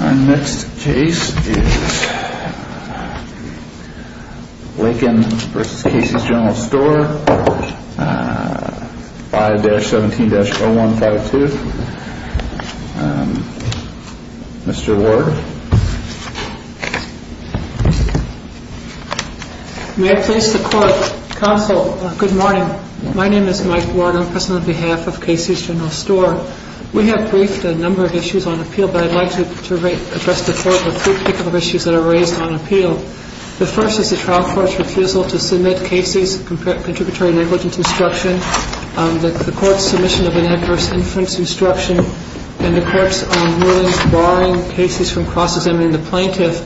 Our next case is Lakin v. Casey's General Store, 5-17-0152. Mr. Ward. May I please support counsel? Good morning. My name is Mike Ward. I'm pressing on behalf of Casey's General Store. We have briefed a number of issues on appeal, but I'd like to address the Court with three particular issues that are raised on appeal. The first is the trial court's refusal to submit Casey's contributory negligence instruction, the court's submission of an adverse influence instruction, and the court's ruling barring Casey's from cross-examining the plaintiff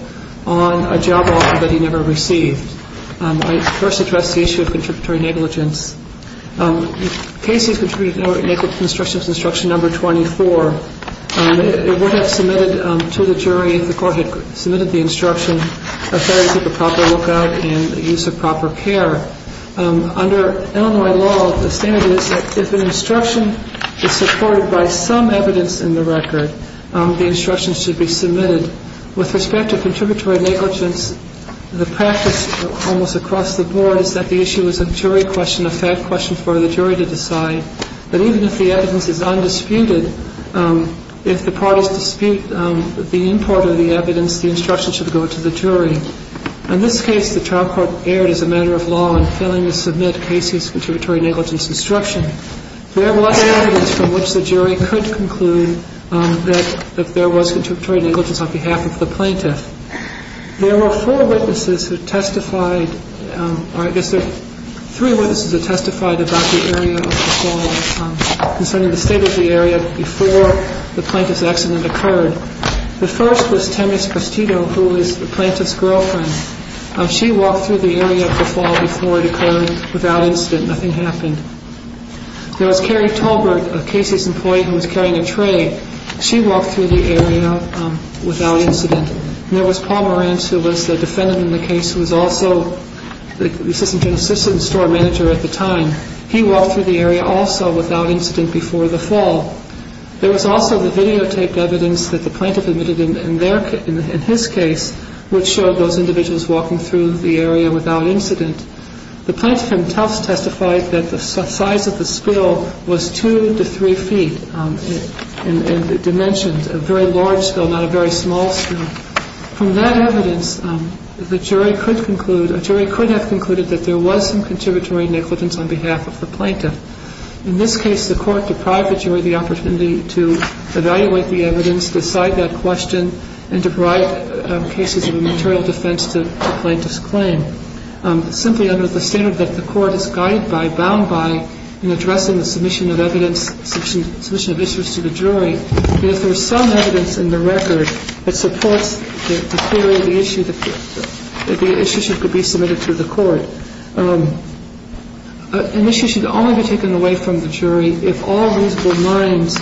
on a job offer that he never received. I first address the issue of contributory negligence. Casey's contributory negligence instruction, number 24, it would have submitted to the jury if the court had submitted the instruction to take a proper lookout and use of proper care. Under Illinois law, the standard is that if an instruction is supported by some evidence in the record, the instruction should be submitted. With respect to contributory negligence, the practice almost across the board is that the issue is a jury question, a fact question for the jury to decide. But even if the evidence is undisputed, if the parties dispute the import of the evidence, the instruction should go to the jury. In this case, the trial court erred as a matter of law in failing to submit Casey's contributory negligence instruction. There was evidence from which the jury could conclude that there was contributory negligence on behalf of the plaintiff. There were four witnesses who testified, or I guess there were three witnesses who testified about the area of the fall concerning the state of the area before the plaintiff's accident occurred. The first was Temis Prestito, who was the plaintiff's girlfriend. She walked through the area of the fall before it occurred without incident. Nothing happened. There was Carrie Tolbert, Casey's employee, who was carrying a tray. She walked through the area without incident. And there was Paul Morantz, who was the defendant in the case, who was also the assistant store manager at the time. He walked through the area also without incident before the fall. There was also the videotaped evidence that the plaintiff admitted in his case which showed those individuals walking through the area without incident. The plaintiff himself testified that the size of the spill was two to three feet. And it dimensions a very large spill, not a very small spill. From that evidence, the jury could conclude, a jury could have concluded that there was some contributory negligence on behalf of the plaintiff. In this case, the court deprived the jury the opportunity to evaluate the evidence, decide that question, and to provide cases of a material defense to the plaintiff's claim. Simply under the standard that the court is guided by, bound by, in addressing the submission of evidence, submission of issues to the jury, if there is some evidence in the record that supports the theory of the issue, that the issue should be submitted to the court, an issue should only be taken away from the jury if all reasonable minds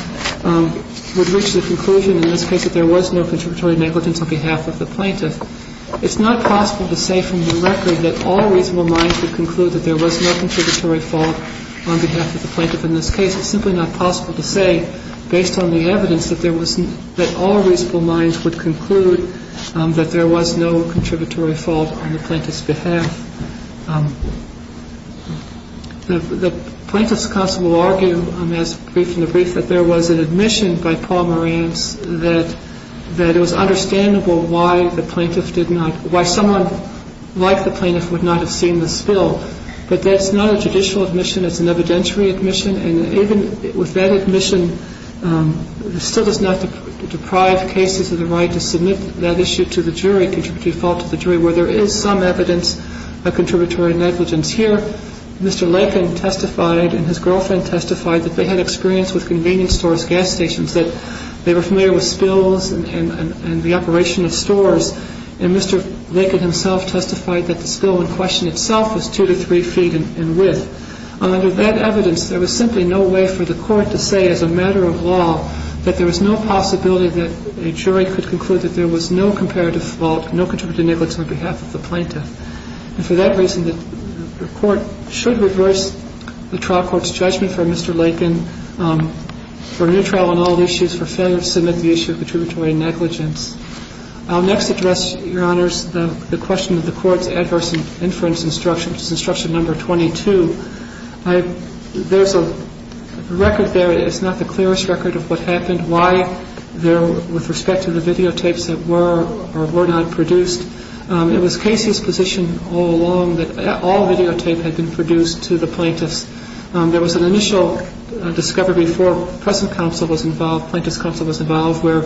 would reach the conclusion in this case that there was no contributory negligence on behalf of the plaintiff. It's not possible to say from the record that all reasonable minds would conclude that there was no contributory fault on behalf of the plaintiff. In this case, it's simply not possible to say, based on the evidence, that all reasonable minds would conclude that there was no contributory fault on the plaintiff's behalf. The plaintiff's counsel will argue, as brief in the brief, that there was an admission by Paul Morant that it was understandable why someone like the plaintiff would not have seen the spill. But that's not a judicial admission. It's an evidentiary admission. And even with that admission, it still does not deprive cases of the right to submit that issue to the jury, contributory fault to the jury, where there is some evidence of contributory negligence. Here, Mr. Lincoln testified and his girlfriend testified that they had experience with convenience stores, gas stations, that they were familiar with spills and the operation of stores. And Mr. Lincoln himself testified that the spill in question itself was two to three feet in width. Under that evidence, there was simply no way for the court to say, as a matter of law, that there was no possibility that a jury could conclude that there was no comparative fault, no contributory negligence on behalf of the plaintiff. And for that reason, the court should reverse the trial court's judgment for Mr. Lincoln for a new trial on all issues for failure to submit the issue of contributory negligence. I'll next address, Your Honors, the question of the court's adverse inference instruction, which is instruction number 22. There's a record there. It's not the clearest record of what happened, why with respect to the videotapes that were or were not produced. It was Casey's position all along that all videotape had been produced to the plaintiffs. There was an initial discovery before present counsel was involved, plaintiff's counsel was involved, where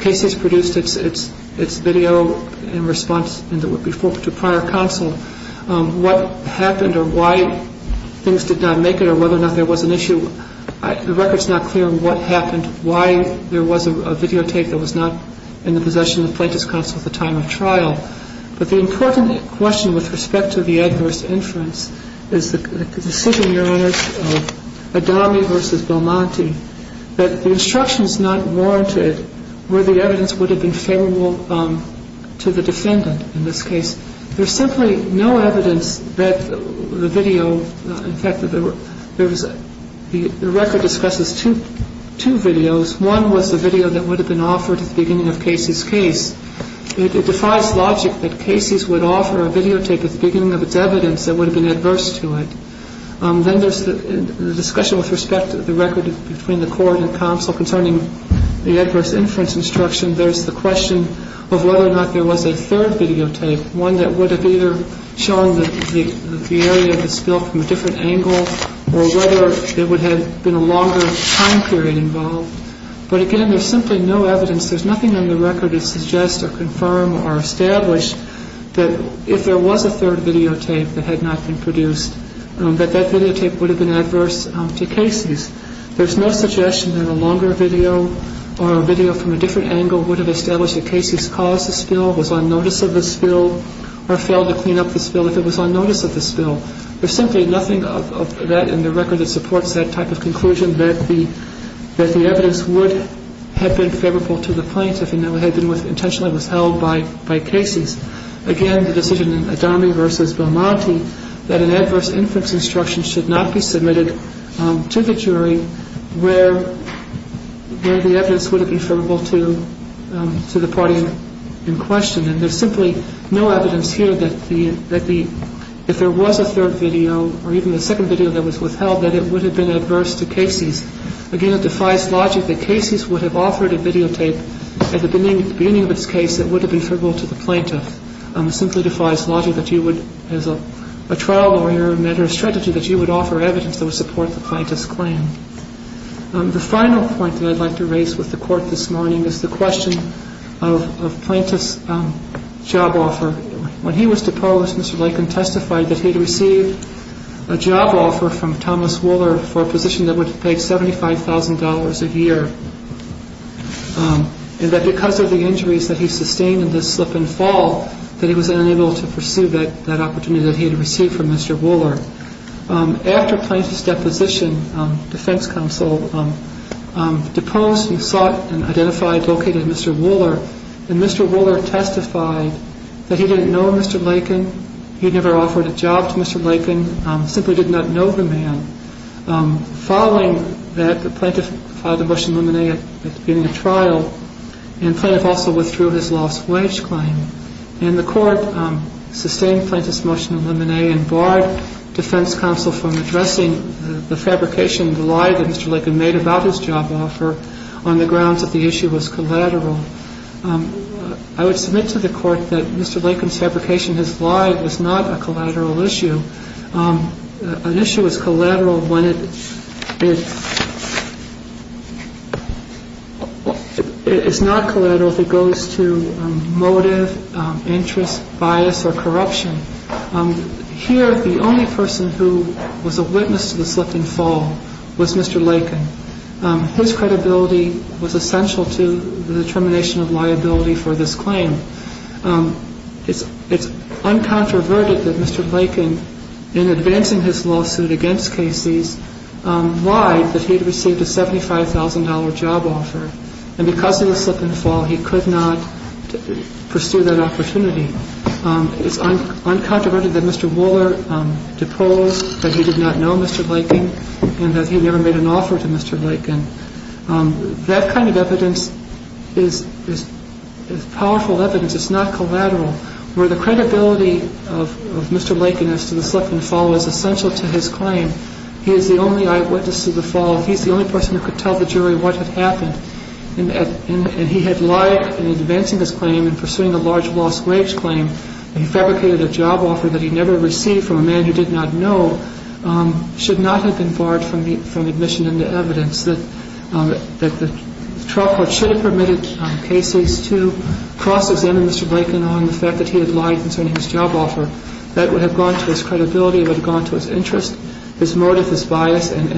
Casey's produced its video in response to prior counsel. What happened or why things did not make it or whether or not there was an issue, the record's not clear on what happened, why there was a videotape that was not in the possession of the plaintiff's counsel at the time of trial. But the important question with respect to the adverse inference is the decision, Your Honors, of Adami v. Belmonte, that the instructions not warranted were the evidence would have been favorable to the defendant in this case. There's simply no evidence that the video, in fact, the record discusses two videos. One was the video that would have been offered at the beginning of Casey's case. It defies logic that Casey's would offer a videotape at the beginning of its evidence that would have been adverse to it. Then there's the discussion with respect to the record between the court and counsel concerning the adverse inference instruction. There's the question of whether or not there was a third videotape, one that would have either shown the area of the spill from a different angle or whether there would have been a longer time period involved. But again, there's simply no evidence. There's nothing on the record that suggests or confirms or establishes that if there was a third videotape that had not been produced, that that videotape would have been adverse to Casey's. There's no suggestion that a longer video or a video from a different angle would have established that Casey's caused the spill, was on notice of the spill, or failed to clean up the spill if it was on notice of the spill. There's simply nothing of that in the record that supports that type of conclusion, that the evidence would have been favorable to the plaintiff and that it had been intentionally withheld by Casey's. Again, the decision in Adami v. Belmonte, that an adverse inference instruction should not be submitted to the jury where the evidence would have been favorable to the party in question. And there's simply no evidence here that if there was a third video or even the second video that was withheld, that it would have been adverse to Casey's. Again, it defies logic that Casey's would have authored a videotape At the beginning of this case, it would have been favorable to the plaintiff. It simply defies logic that you would, as a trial lawyer, measure a strategy that you would offer evidence that would support the plaintiff's claim. The final point that I'd like to raise with the Court this morning is the question of plaintiff's job offer. When he was deposed, Mr. Lakin testified that he had received a job offer from Thomas Wuller for a position that would have paid $75,000 a year, and that because of the injuries that he sustained in this slip and fall, that he was unable to pursue that opportunity that he had received from Mr. Wuller. After plaintiff's deposition, defense counsel deposed and sought and identified and located Mr. Wuller, and Mr. Wuller testified that he didn't know Mr. Lakin, he never offered a job to Mr. Lakin, simply did not know the man. Following that, the plaintiff filed a motion of limine at the beginning of trial, and plaintiff also withdrew his lost wage claim. And the Court sustained plaintiff's motion of limine and barred defense counsel from addressing the fabrication, the lie that Mr. Lakin made about his job offer on the grounds that the issue was collateral. I would submit to the Court that Mr. Lakin's fabrication, his lie, was not a collateral issue. An issue is collateral when it is not collateral if it goes to motive, interest, bias, or corruption. Here, the only person who was a witness to the slip and fall was Mr. Lakin. His credibility was essential to the determination of liability for this claim. It's uncontroverted that Mr. Lakin, in advancing his lawsuit against Casey's, lied that he had received a $75,000 job offer, and because of the slip and fall, he could not pursue that opportunity. It's uncontroverted that Mr. Wuller deposed, that he did not know Mr. Lakin, and that he never made an offer to Mr. Lakin. That kind of evidence is powerful evidence. It's not collateral. Where the credibility of Mr. Lakin as to the slip and fall is essential to his claim, he is the only eyewitness to the fall. He's the only person who could tell the jury what had happened. And he had lied in advancing his claim and pursuing a large lost wage claim. He fabricated a job offer that he never received from a man who did not know, And that's why the trial court should not have been barred from admission into evidence, that the trial court should have permitted Casey's to cross-examine Mr. Lakin on the fact that he had lied concerning his job offer. That would have gone to his credibility. It would have gone to his interest, his motive, his bias, and,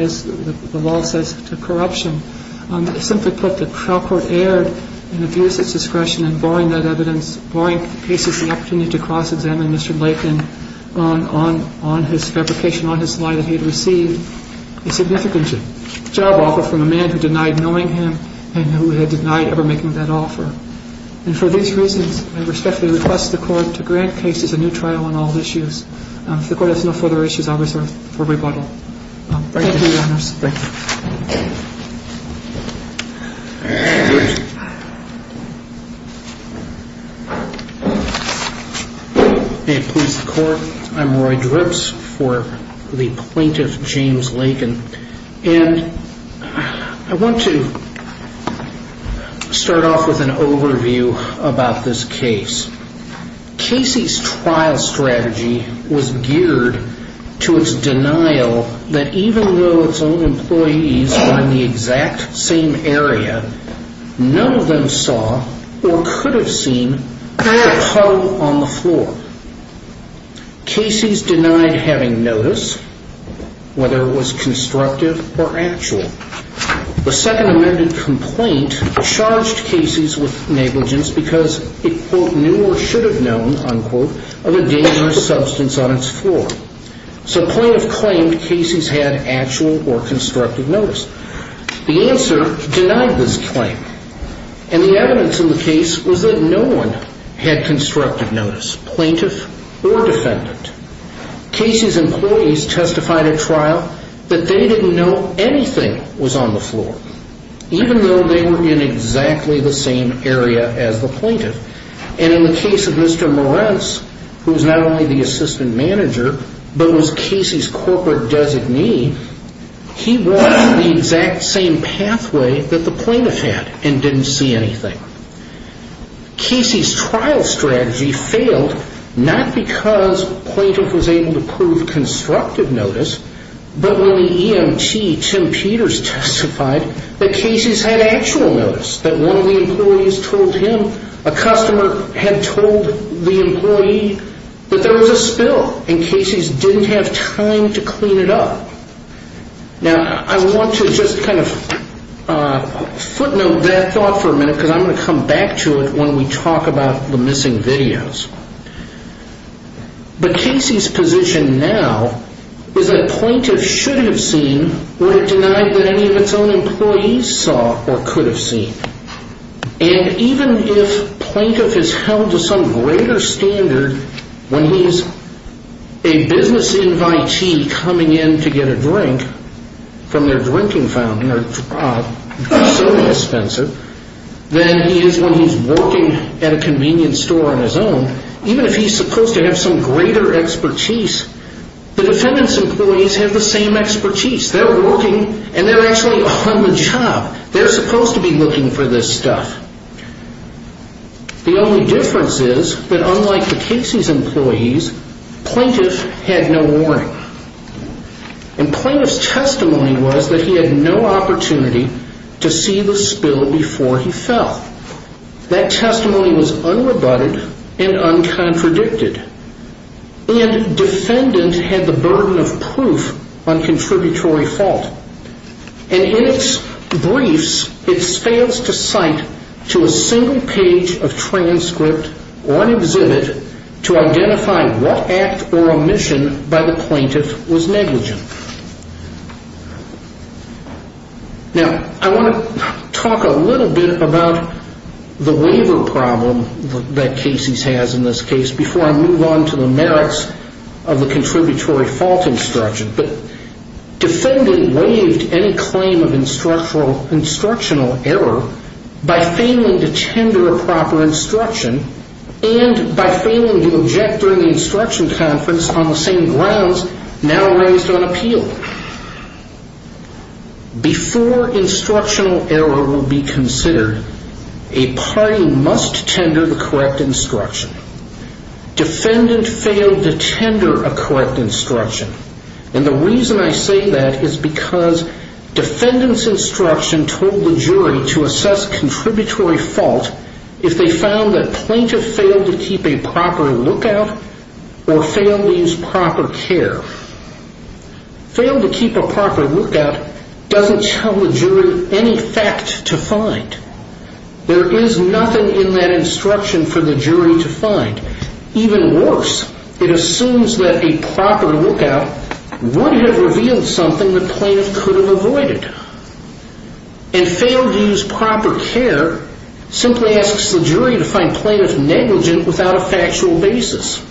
as the law says, to corruption. Simply put, the trial court erred in abuse of discretion in barring that evidence, barring Casey's opportunity to cross-examine Mr. Lakin on his fabrication, on his lie that he had received a significant job offer from a man who denied knowing him and who had denied ever making that offer. And for these reasons, I respectfully request the Court to grant Casey's a new trial on all issues. If the Court has no further issues, I'll reserve for rebuttal. Thank you, Your Honors. Thank you. May it please the Court, I'm Roy Drips for the plaintiff, James Lakin, and I want to start off with an overview about this case. Casey's trial strategy was geared to its denial that even though its own employees were in the exact same area, none of them saw or could have seen the puddle on the floor. Casey's denied having notice, whether it was constructive or actual. The Second Amendment complaint charged Casey's with negligence because it, quote, knew or should have known, unquote, of a dangerous substance on its floor. So plaintiff claimed Casey's had actual or constructive notice. The answer denied this claim, and the evidence in the case was that no one had constructive notice, plaintiff or defendant. Casey's employees testified at trial that they didn't know anything was on the floor, even though they were in exactly the same area as the plaintiff. And in the case of Mr. Moretz, who was not only the assistant manager but was Casey's corporate designee, he walked the exact same pathway that the plaintiff had and didn't see anything. Casey's trial strategy failed not because plaintiff was able to prove constructive notice, but when the EMT, Tim Peters, testified that Casey's had actual notice, that one of the employees told him a customer had told the employee that there was a spill and Casey's didn't have time to clean it up. Now, I want to just kind of footnote that thought for a minute because I'm going to come back to it when we talk about the missing videos. But Casey's position now is that plaintiff should have seen what it denied that any of its own employees saw or could have seen. And even if plaintiff is held to some greater standard when he's a business invitee or when he's coming in to get a drink from their drinking fountain or soda dispenser than he is when he's working at a convenience store on his own, even if he's supposed to have some greater expertise, the defendant's employees have the same expertise. They're working and they're actually on the job. They're supposed to be looking for this stuff. The only difference is that unlike the Casey's employees, plaintiff had no warning. And plaintiff's testimony was that he had no opportunity to see the spill before he fell. That testimony was unrebutted and uncontradicted. And defendant had the burden of proof on contributory fault. And in its briefs, it fails to cite to a single page of transcript or an exhibit to identify what act or omission by the plaintiff was negligent. Now, I want to talk a little bit about the waiver problem that Casey's has in this case before I move on to the merits of the contributory fault instruction. But defendant waived any claim of instructional error by failing to tender a proper instruction and by failing to object during the instruction conference on the same grounds now raised on appeal. Before instructional error will be considered, a party must tender the correct instruction. Defendant failed to tender a correct instruction. And the reason I say that is because defendant's instruction told the jury to assess contributory fault if they found that plaintiff failed to keep a proper lookout or failed to use proper care. Failed to keep a proper lookout doesn't tell the jury any fact to find. There is nothing in that instruction for the jury to find. Even worse, it assumes that a proper lookout would have revealed something the plaintiff could have avoided. And failed to use proper care simply asks the jury to find plaintiff negligent without a factual basis.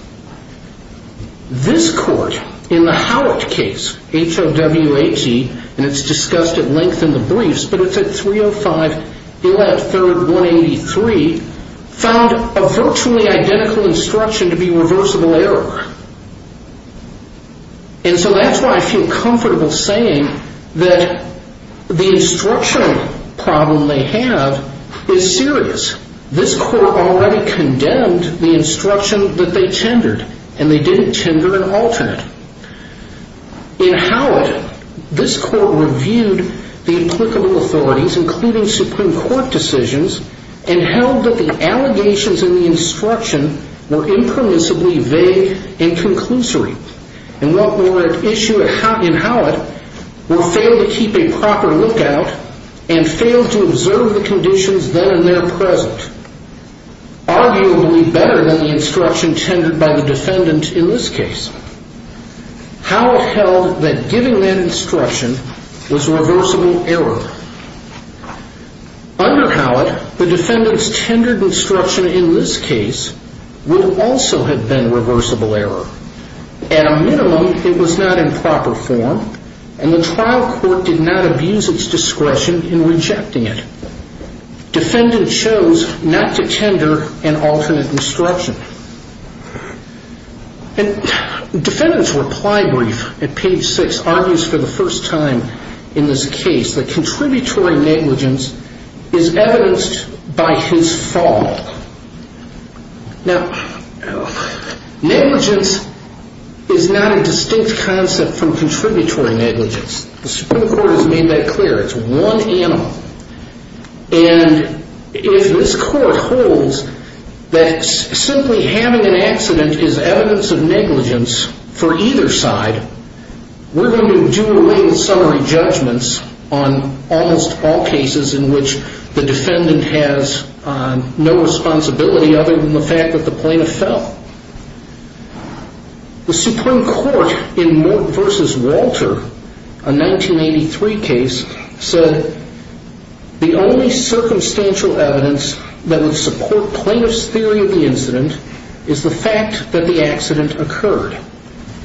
This court, in the Howitt case, H-O-W-H-E, and it's discussed at length in the briefs, but it's at 305 U.S. 3rd 183, found a virtually identical instruction to be reversible error. And so that's why I feel comfortable saying that the instructional problem they have is serious. This court already condemned the instruction that they tendered, and they didn't tender an alternate. In Howitt, this court reviewed the applicable authorities, including Supreme Court decisions, and held that the allegations in the instruction were impermissibly vague and conclusory. And what were at issue in Howitt were failed to keep a proper lookout and failed to observe the conditions then and there present. Arguably better than the instruction tendered by the defendant in this case. Howitt held that giving that instruction was reversible error. Under Howitt, the defendant's tendered instruction in this case would also have been reversible error. At a minimum, it was not in proper form, and the trial court did not abuse its discretion in rejecting it. Defendant chose not to tender an alternate instruction. And defendant's reply brief at page 6 argues for the first time in this case that contributory negligence is evidenced by his fault. Now, negligence is not a distinct concept from contributory negligence. The Supreme Court has made that clear. It's one animal. And if this court holds that simply having an accident is evidence of negligence for either side, we're going to do related summary judgments on almost all cases in which the defendant has no responsibility other than the fact that the plaintiff fell. The Supreme Court in Mort v. Walter, a 1983 case, said the only circumstantial evidence that would support plaintiff's theory of the incident is the fact that the accident occurred.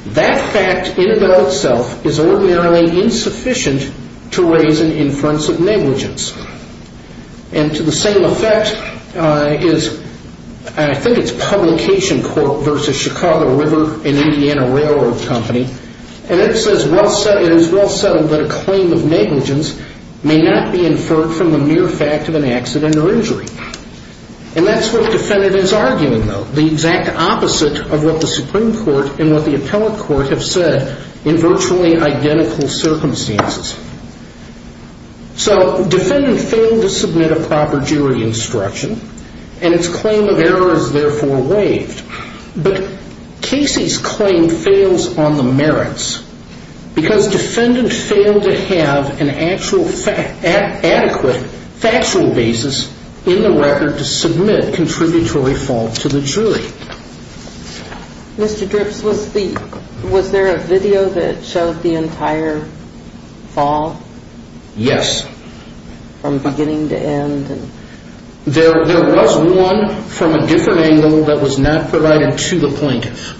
That fact in and of itself is ordinarily insufficient to raise an inference of negligence. And to the same effect is, I think it's Publication Court v. Chicago River, an Indiana railroad company, and it is well settled that a claim of negligence may not be inferred from the mere fact of an accident or injury. And that's what the defendant is arguing, though, the exact opposite of what the Supreme Court and what the appellate court have said in virtually identical circumstances. So defendant failed to submit a proper jury instruction, and its claim of error is therefore waived. But Casey's claim fails on the merits because defendant failed to have an actual adequate factual basis in the record to submit contributory fault to the jury. Mr. Dripps, was there a video that showed the entire fall? Yes. From beginning to end? There was one from a different angle that was not provided to the plaintiff.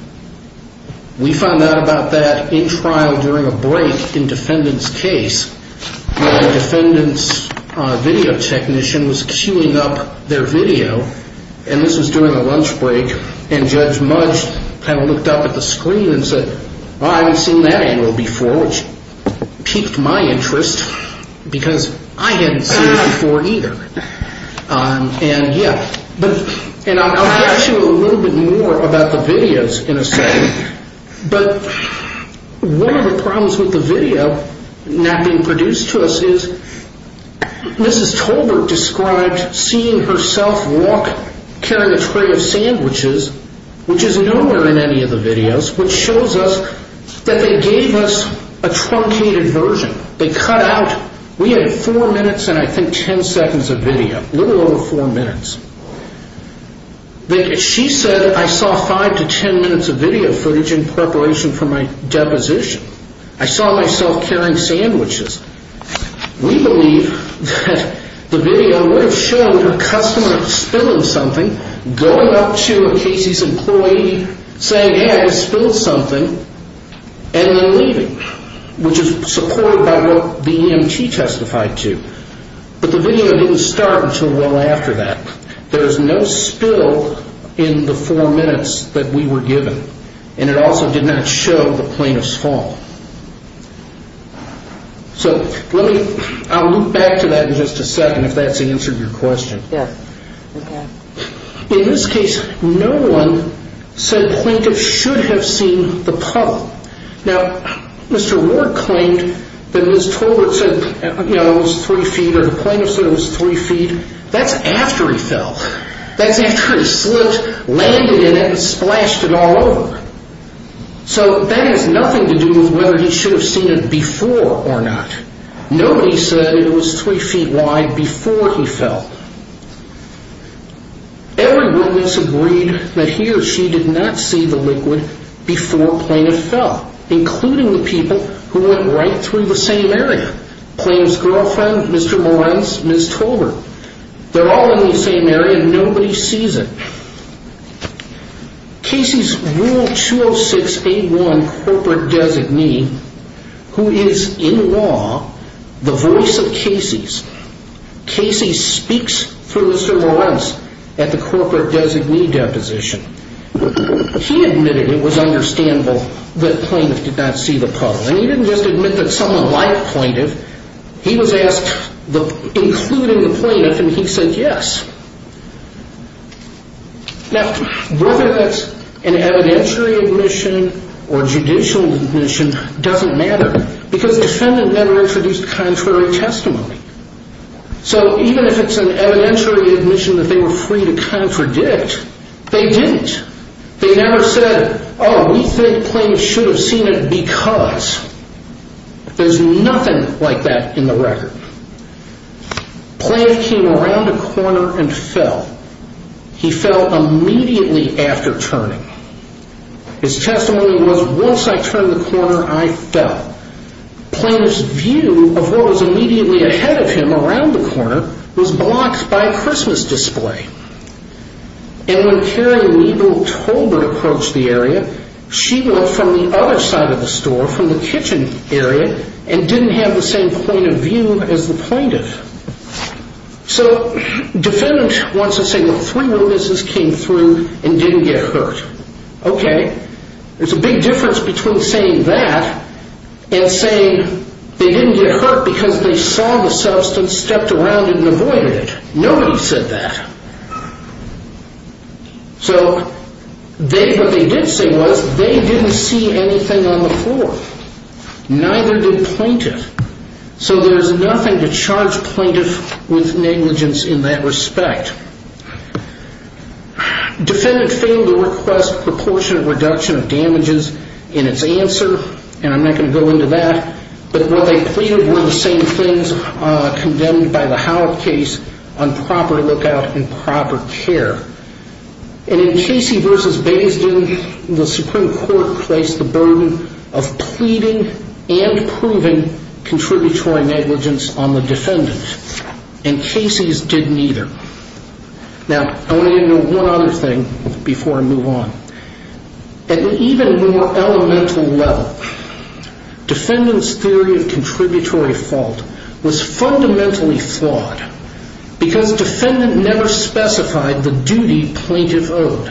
We found out about that in trial during a break in defendant's case where the defendant's video technician was queuing up their video, and this was during a lunch break, and Judge Mudge kind of looked up at the screen and said, Well, I haven't seen that angle before, which piqued my interest because I hadn't seen it before either. And, yeah. And I'll tell you a little bit more about the videos in a second, but one of the problems with the video not being produced to us is Mrs. Tolbert described seeing herself walk carrying a tray of sandwiches, which is nowhere in any of the videos, which shows us that they gave us a truncated version. They cut out, we had four minutes and I think ten seconds of video, a little over four minutes. She said I saw five to ten minutes of video footage in preparation for my deposition. I saw myself carrying sandwiches. We believe that the video would have shown her customer spilling something, going up to a Casey's employee, saying, Hey, I spilled something, and then leaving, which is supported by what the EMT testified to. But the video didn't start until well after that. There's no spill in the four minutes that we were given, and it also did not show the plaintiff's fall. So let me, I'll loop back to that in just a second, if that's the answer to your question. Yes. In this case, no one said plaintiff should have seen the puddle. Now, Mr. Ward claimed that Mrs. Tolbert said it was three feet, or the plaintiff said it was three feet. That's after he fell. That's after he slipped, landed in it, and splashed it all over. So that has nothing to do with whether he should have seen it before or not. Nobody said it was three feet wide before he fell. Every witness agreed that he or she did not see the liquid before plaintiff fell, including the people who went right through the same area, plaintiff's girlfriend, Mr. Morens, Mrs. Tolbert. They're all in the same area, and nobody sees it. Casey's Rule 206-81 corporate designee, who is in law, the voice of Casey's, Casey speaks through Mr. Morens at the corporate designee deposition. He admitted it was understandable that plaintiff did not see the puddle, and he didn't just admit that someone liked plaintiff. He was asked, including the plaintiff, and he said yes. Now, whether that's an evidentiary admission or judicial admission doesn't matter because defendant never introduced contrary testimony. So even if it's an evidentiary admission that they were free to contradict, they didn't. They never said, oh, we think plaintiff should have seen it because. There's nothing like that in the record. Plaintiff came around a corner and fell. He fell immediately after turning. His testimony was, once I turned the corner, I fell. Plaintiff's view of what was immediately ahead of him around the corner was blocked by a Christmas display. And when Carrie Weigel Tolbert approached the area, she looked from the other side of the store, from the kitchen area, and didn't have the same point of view as the plaintiff. So defendant wants to say, well, three witnesses came through and didn't get hurt. Okay. There's a big difference between saying that and saying they didn't get hurt because they saw the substance, stepped around it, and avoided it. Nobody said that. So what they did say was they didn't see anything on the floor. Neither did plaintiff. So there's nothing to charge plaintiff with negligence in that respect. Defendant failed to request proportionate reduction of damages in its answer, and I'm not going to go into that, but what they pleaded were the same things condemned by the Howell case on proper lookout and proper care. And in Casey v. Basing, the Supreme Court placed the burden of pleading and proving contributory negligence on the defendant, and Casey's didn't either. Now, I want to get into one other thing before I move on. At an even more elemental level, defendant's theory of contributory fault was fundamentally flawed because defendant never specified the duty plaintiff owed.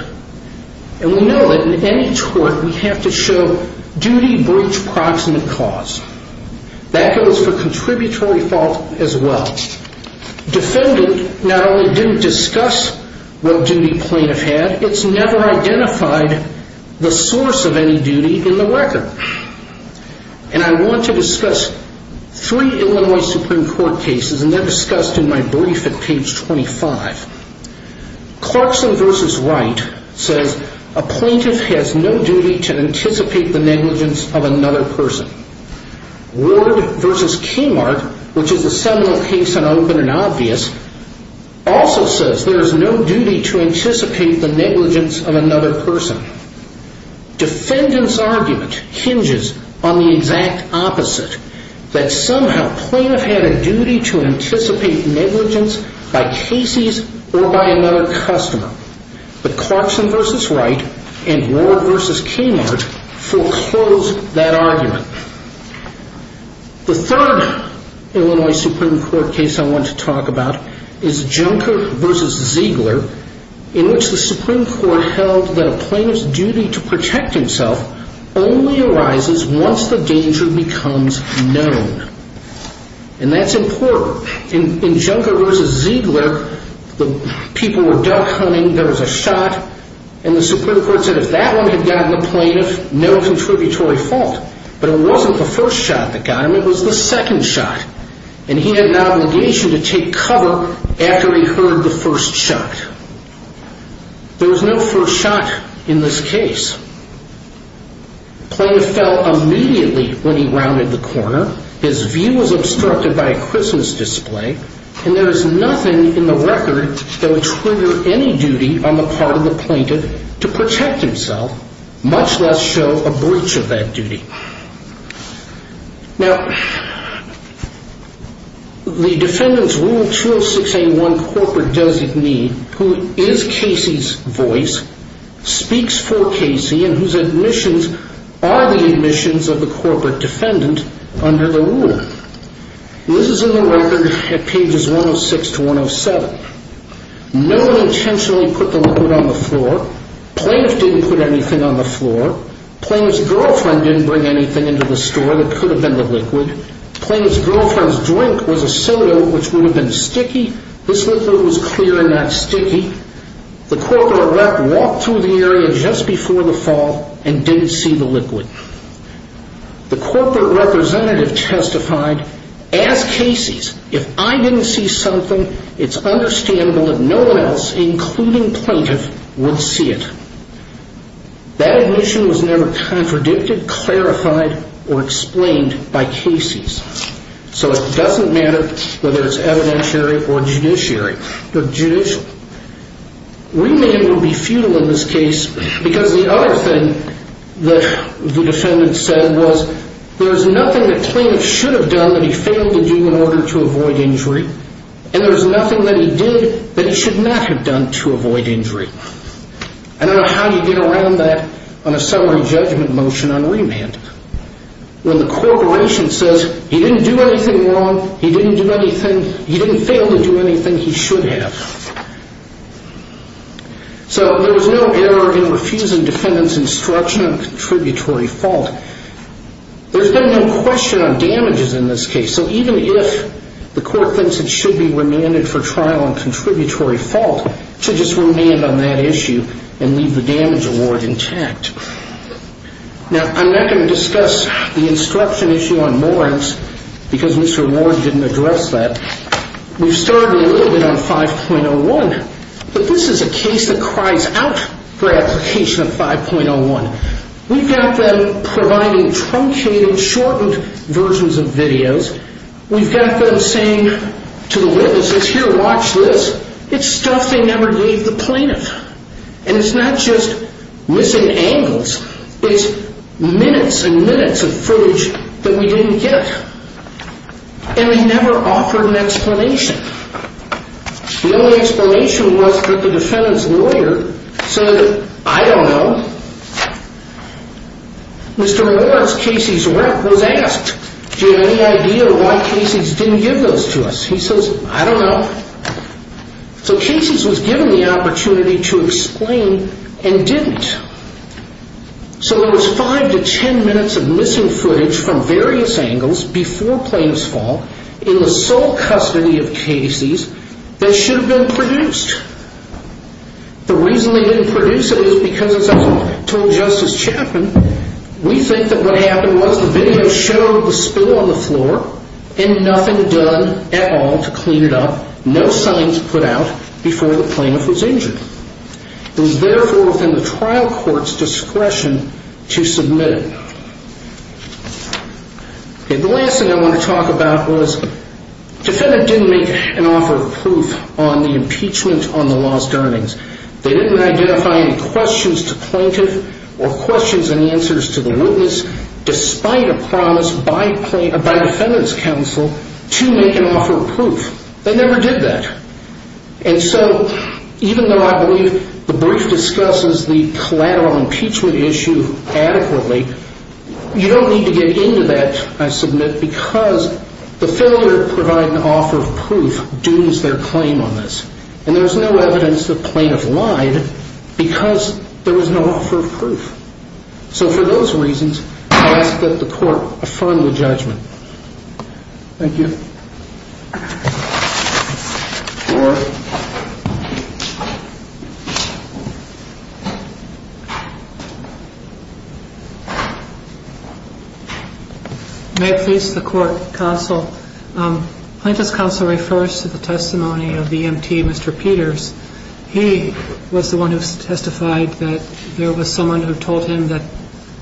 And we know that in any tort we have to show duty breach proximate cause. That goes for contributory fault as well. Defendant not only didn't discuss what duty plaintiff had, it's never identified the source of any duty in the record. And I want to discuss three Illinois Supreme Court cases, and they're discussed in my brief at page 25. Clarkson v. Wright says, a plaintiff has no duty to anticipate the negligence of another person. Ward v. Kiemart, which is a seminal case and open and obvious, also says there is no duty to anticipate the negligence of another person. Defendant's argument hinges on the exact opposite, that somehow plaintiff had a duty to anticipate negligence by cases or by another customer. But Clarkson v. Wright and Ward v. Kiemart foreclosed that argument. The third Illinois Supreme Court case I want to talk about is Junker v. Ziegler, in which the Supreme Court held that a plaintiff's duty to protect himself only arises once the danger becomes known. And that's important. In Junker v. Ziegler, the people were duck hunting, there was a shot, and the Supreme Court said if that one had gotten the plaintiff, no contributory fault. But it wasn't the first shot that got him, it was the second shot. And he had an obligation to take cover after he heard the first shot. There was no first shot in this case. Plaintiff fell immediately when he rounded the corner, his view was obstructed by a Christmas display, and there is nothing in the record that would trigger any duty on the part of the plaintiff to protect himself, much less show a breach of that duty. Now, the defendant's Rule 206A1 corporate designee, who is Casey's voice, speaks for Casey, and whose admissions are the admissions of the corporate defendant under the rule. This is in the record at pages 106 to 107. No one intentionally put the liquid on the floor, plaintiff didn't put anything on the floor, plaintiff's girlfriend didn't bring anything into the store that could have been the liquid, plaintiff's girlfriend's drink was a soda which would have been sticky, this liquid was clear and not sticky, the corporate rep walked through the area just before the fall and didn't see the liquid. The corporate representative testified, as Casey's, if I didn't see something, it's understandable that no one else, including plaintiff, would see it. That admission was never contradicted, clarified, or explained by Casey's. So it doesn't matter whether it's evidentiary or judiciary. Remaining would be futile in this case because the other thing that the defendant said was there is nothing that plaintiff should have done that he failed to do in order to avoid injury, and there's nothing that he did that he should not have done to avoid injury. I don't know how you get around that on a summary judgment motion on remand when the corporation says he didn't do anything wrong, he didn't do anything, he didn't fail to do anything he should have. So there was no error in refusing defendant's instruction on contributory fault. There's been no question on damages in this case, so even if the court thinks it should be remanded for trial on contributory fault, it should just remand on that issue and leave the damage award intact. Now, I'm not going to discuss the instruction issue on warrants because Mr. Warren didn't address that. We've started a little bit on 5.01, but this is a case that cries out for application of 5.01. We've got them providing truncated, shortened versions of videos. We've got them saying to the witnesses, here, watch this, it's stuff they never gave the plaintiff, and it's not just missing angles, it's minutes and minutes of footage that we didn't get, and they never offered an explanation. The only explanation was that the defendant's lawyer said, I don't know. Mr. Warren's case was asked, do you have any idea why Casey's didn't give those to us? He says, I don't know. So Casey's was given the opportunity to explain and didn't. So there was five to ten minutes of missing footage from various angles before plaintiff's fault in the sole custody of Casey's that should have been produced. The reason they didn't produce it is because, as I told Justice Chapman, we think that what happened was the video showed the spill on the floor and nothing done at all to clean it up, no signs put out before the plaintiff was injured. It was therefore within the trial court's discretion to submit it. The last thing I want to talk about was Defendant didn't make an offer of proof on the impeachment on the lost earnings. They didn't identify any questions to plaintiff or questions and answers to the witness, despite a promise by defendant's counsel to make an offer of proof. They never did that. And so even though I believe the brief discusses the collateral impeachment issue adequately, you don't need to get into that, I submit, because the failure to provide an offer of proof dooms their claim on this. And there's no evidence that plaintiff lied because there was no offer of proof. So for those reasons, I ask that the court affirm the judgment. Thank you. May I please, the court, counsel? Plaintiff's counsel refers to the testimony of the EMT, Mr. Peters. He was the one who testified that there was someone who told him that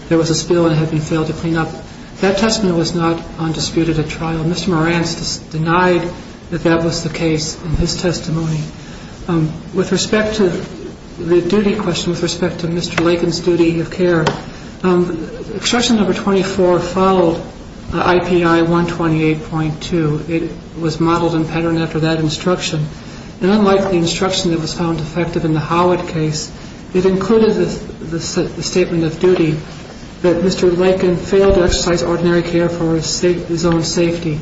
there was a spill and it had been failed to clean up. That testimony was not undisputed at trial. that that was the case in his testimony. With respect to the duty question, with respect to Mr. Lakin's duty of care, instruction number 24 followed IPI 128.2. It was modeled and patterned after that instruction. And unlike the instruction that was found effective in the Howard case, it included the statement of duty that Mr. Lakin failed to exercise ordinary care for his own safety.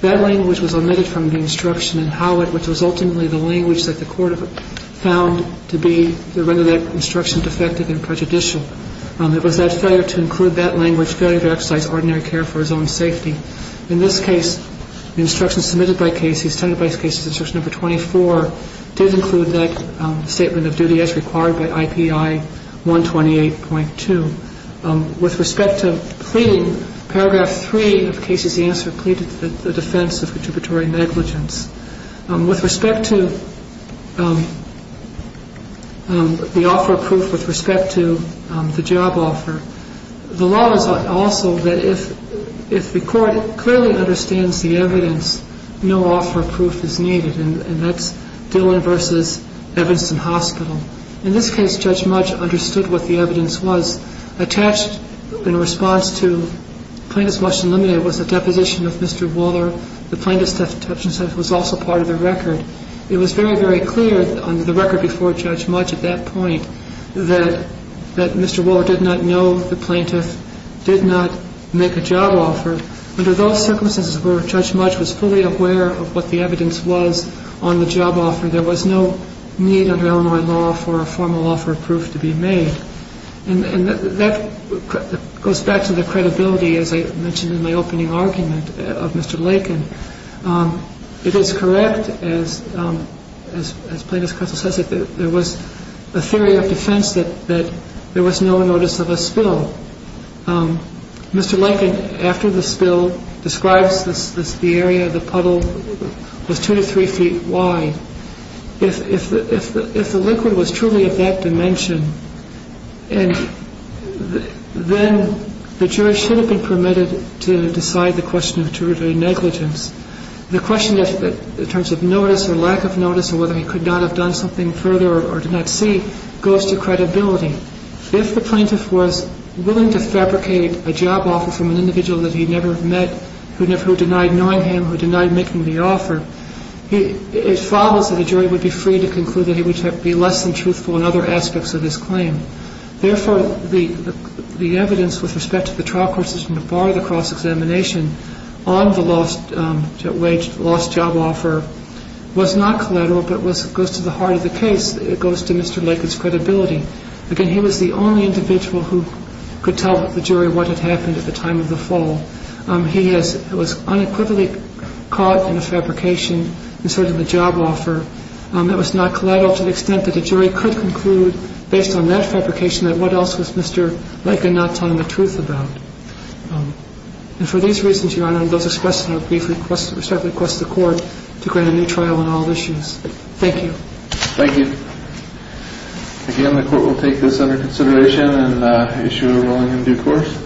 That language was omitted from the instruction in Howard, which was ultimately the language that the court found to be, to render that instruction defective and prejudicial. It was that failure to include that language, failure to exercise ordinary care for his own safety. In this case, the instruction submitted by Casey's, testified by Casey's instruction number 24, did include that statement of duty as required by IPI 128.2. With respect to pleading, paragraph 3 of Casey's answer pleaded the defense of retributory negligence. With respect to the offer of proof, with respect to the job offer, the law is also that if the court clearly understands the evidence, no offer of proof is needed. And that's Dillon v. Evanston Hospital. In this case, Judge Mudge understood what the evidence was. Attached in response to Plaintiff's motion limited was a deposition of Mr. Waller. The plaintiff's deposition was also part of the record. It was very, very clear on the record before Judge Mudge at that point, that Mr. Waller did not know the plaintiff, did not make a job offer. Under those circumstances where Judge Mudge was fully aware of what the evidence was on the job offer, there was no need under Illinois law for a formal offer of proof to be made. And that goes back to the credibility, as I mentioned in my opening argument, of Mr. Lakin. It is correct, as Plaintiff's counsel says it, that there was a theory of defense that there was no notice of a spill. Mr. Lakin, after the spill, describes the area of the puddle was two to three feet wide. If the liquid was truly of that dimension, then the jury should have been permitted to decide the question of juridical negligence. The question in terms of notice or lack of notice or whether he could not have done something further or did not see goes to credibility. If the plaintiff was willing to fabricate a job offer from an individual that he never met, who denied knowing him, who denied making the offer, it follows that the jury would be free to conclude that he would be less than truthful in other aspects of his claim. Therefore, the evidence with respect to the trial court's decision to bar the cross-examination on the lost job offer was not collateral, but goes to the heart of the case. It goes to Mr. Lakin's credibility. Again, he was the only individual who could tell the jury what had happened at the time of the fall. He was unequivocally caught in a fabrication and asserted the job offer. It was not collateral to the extent that the jury could conclude, based on that fabrication, that what else was Mr. Lakin not telling the truth about. And for these reasons, Your Honor, I would like to request the court to grant a new trial on all issues. Thank you. Thank you. Again, the court will take this under consideration and issue a ruling in due course.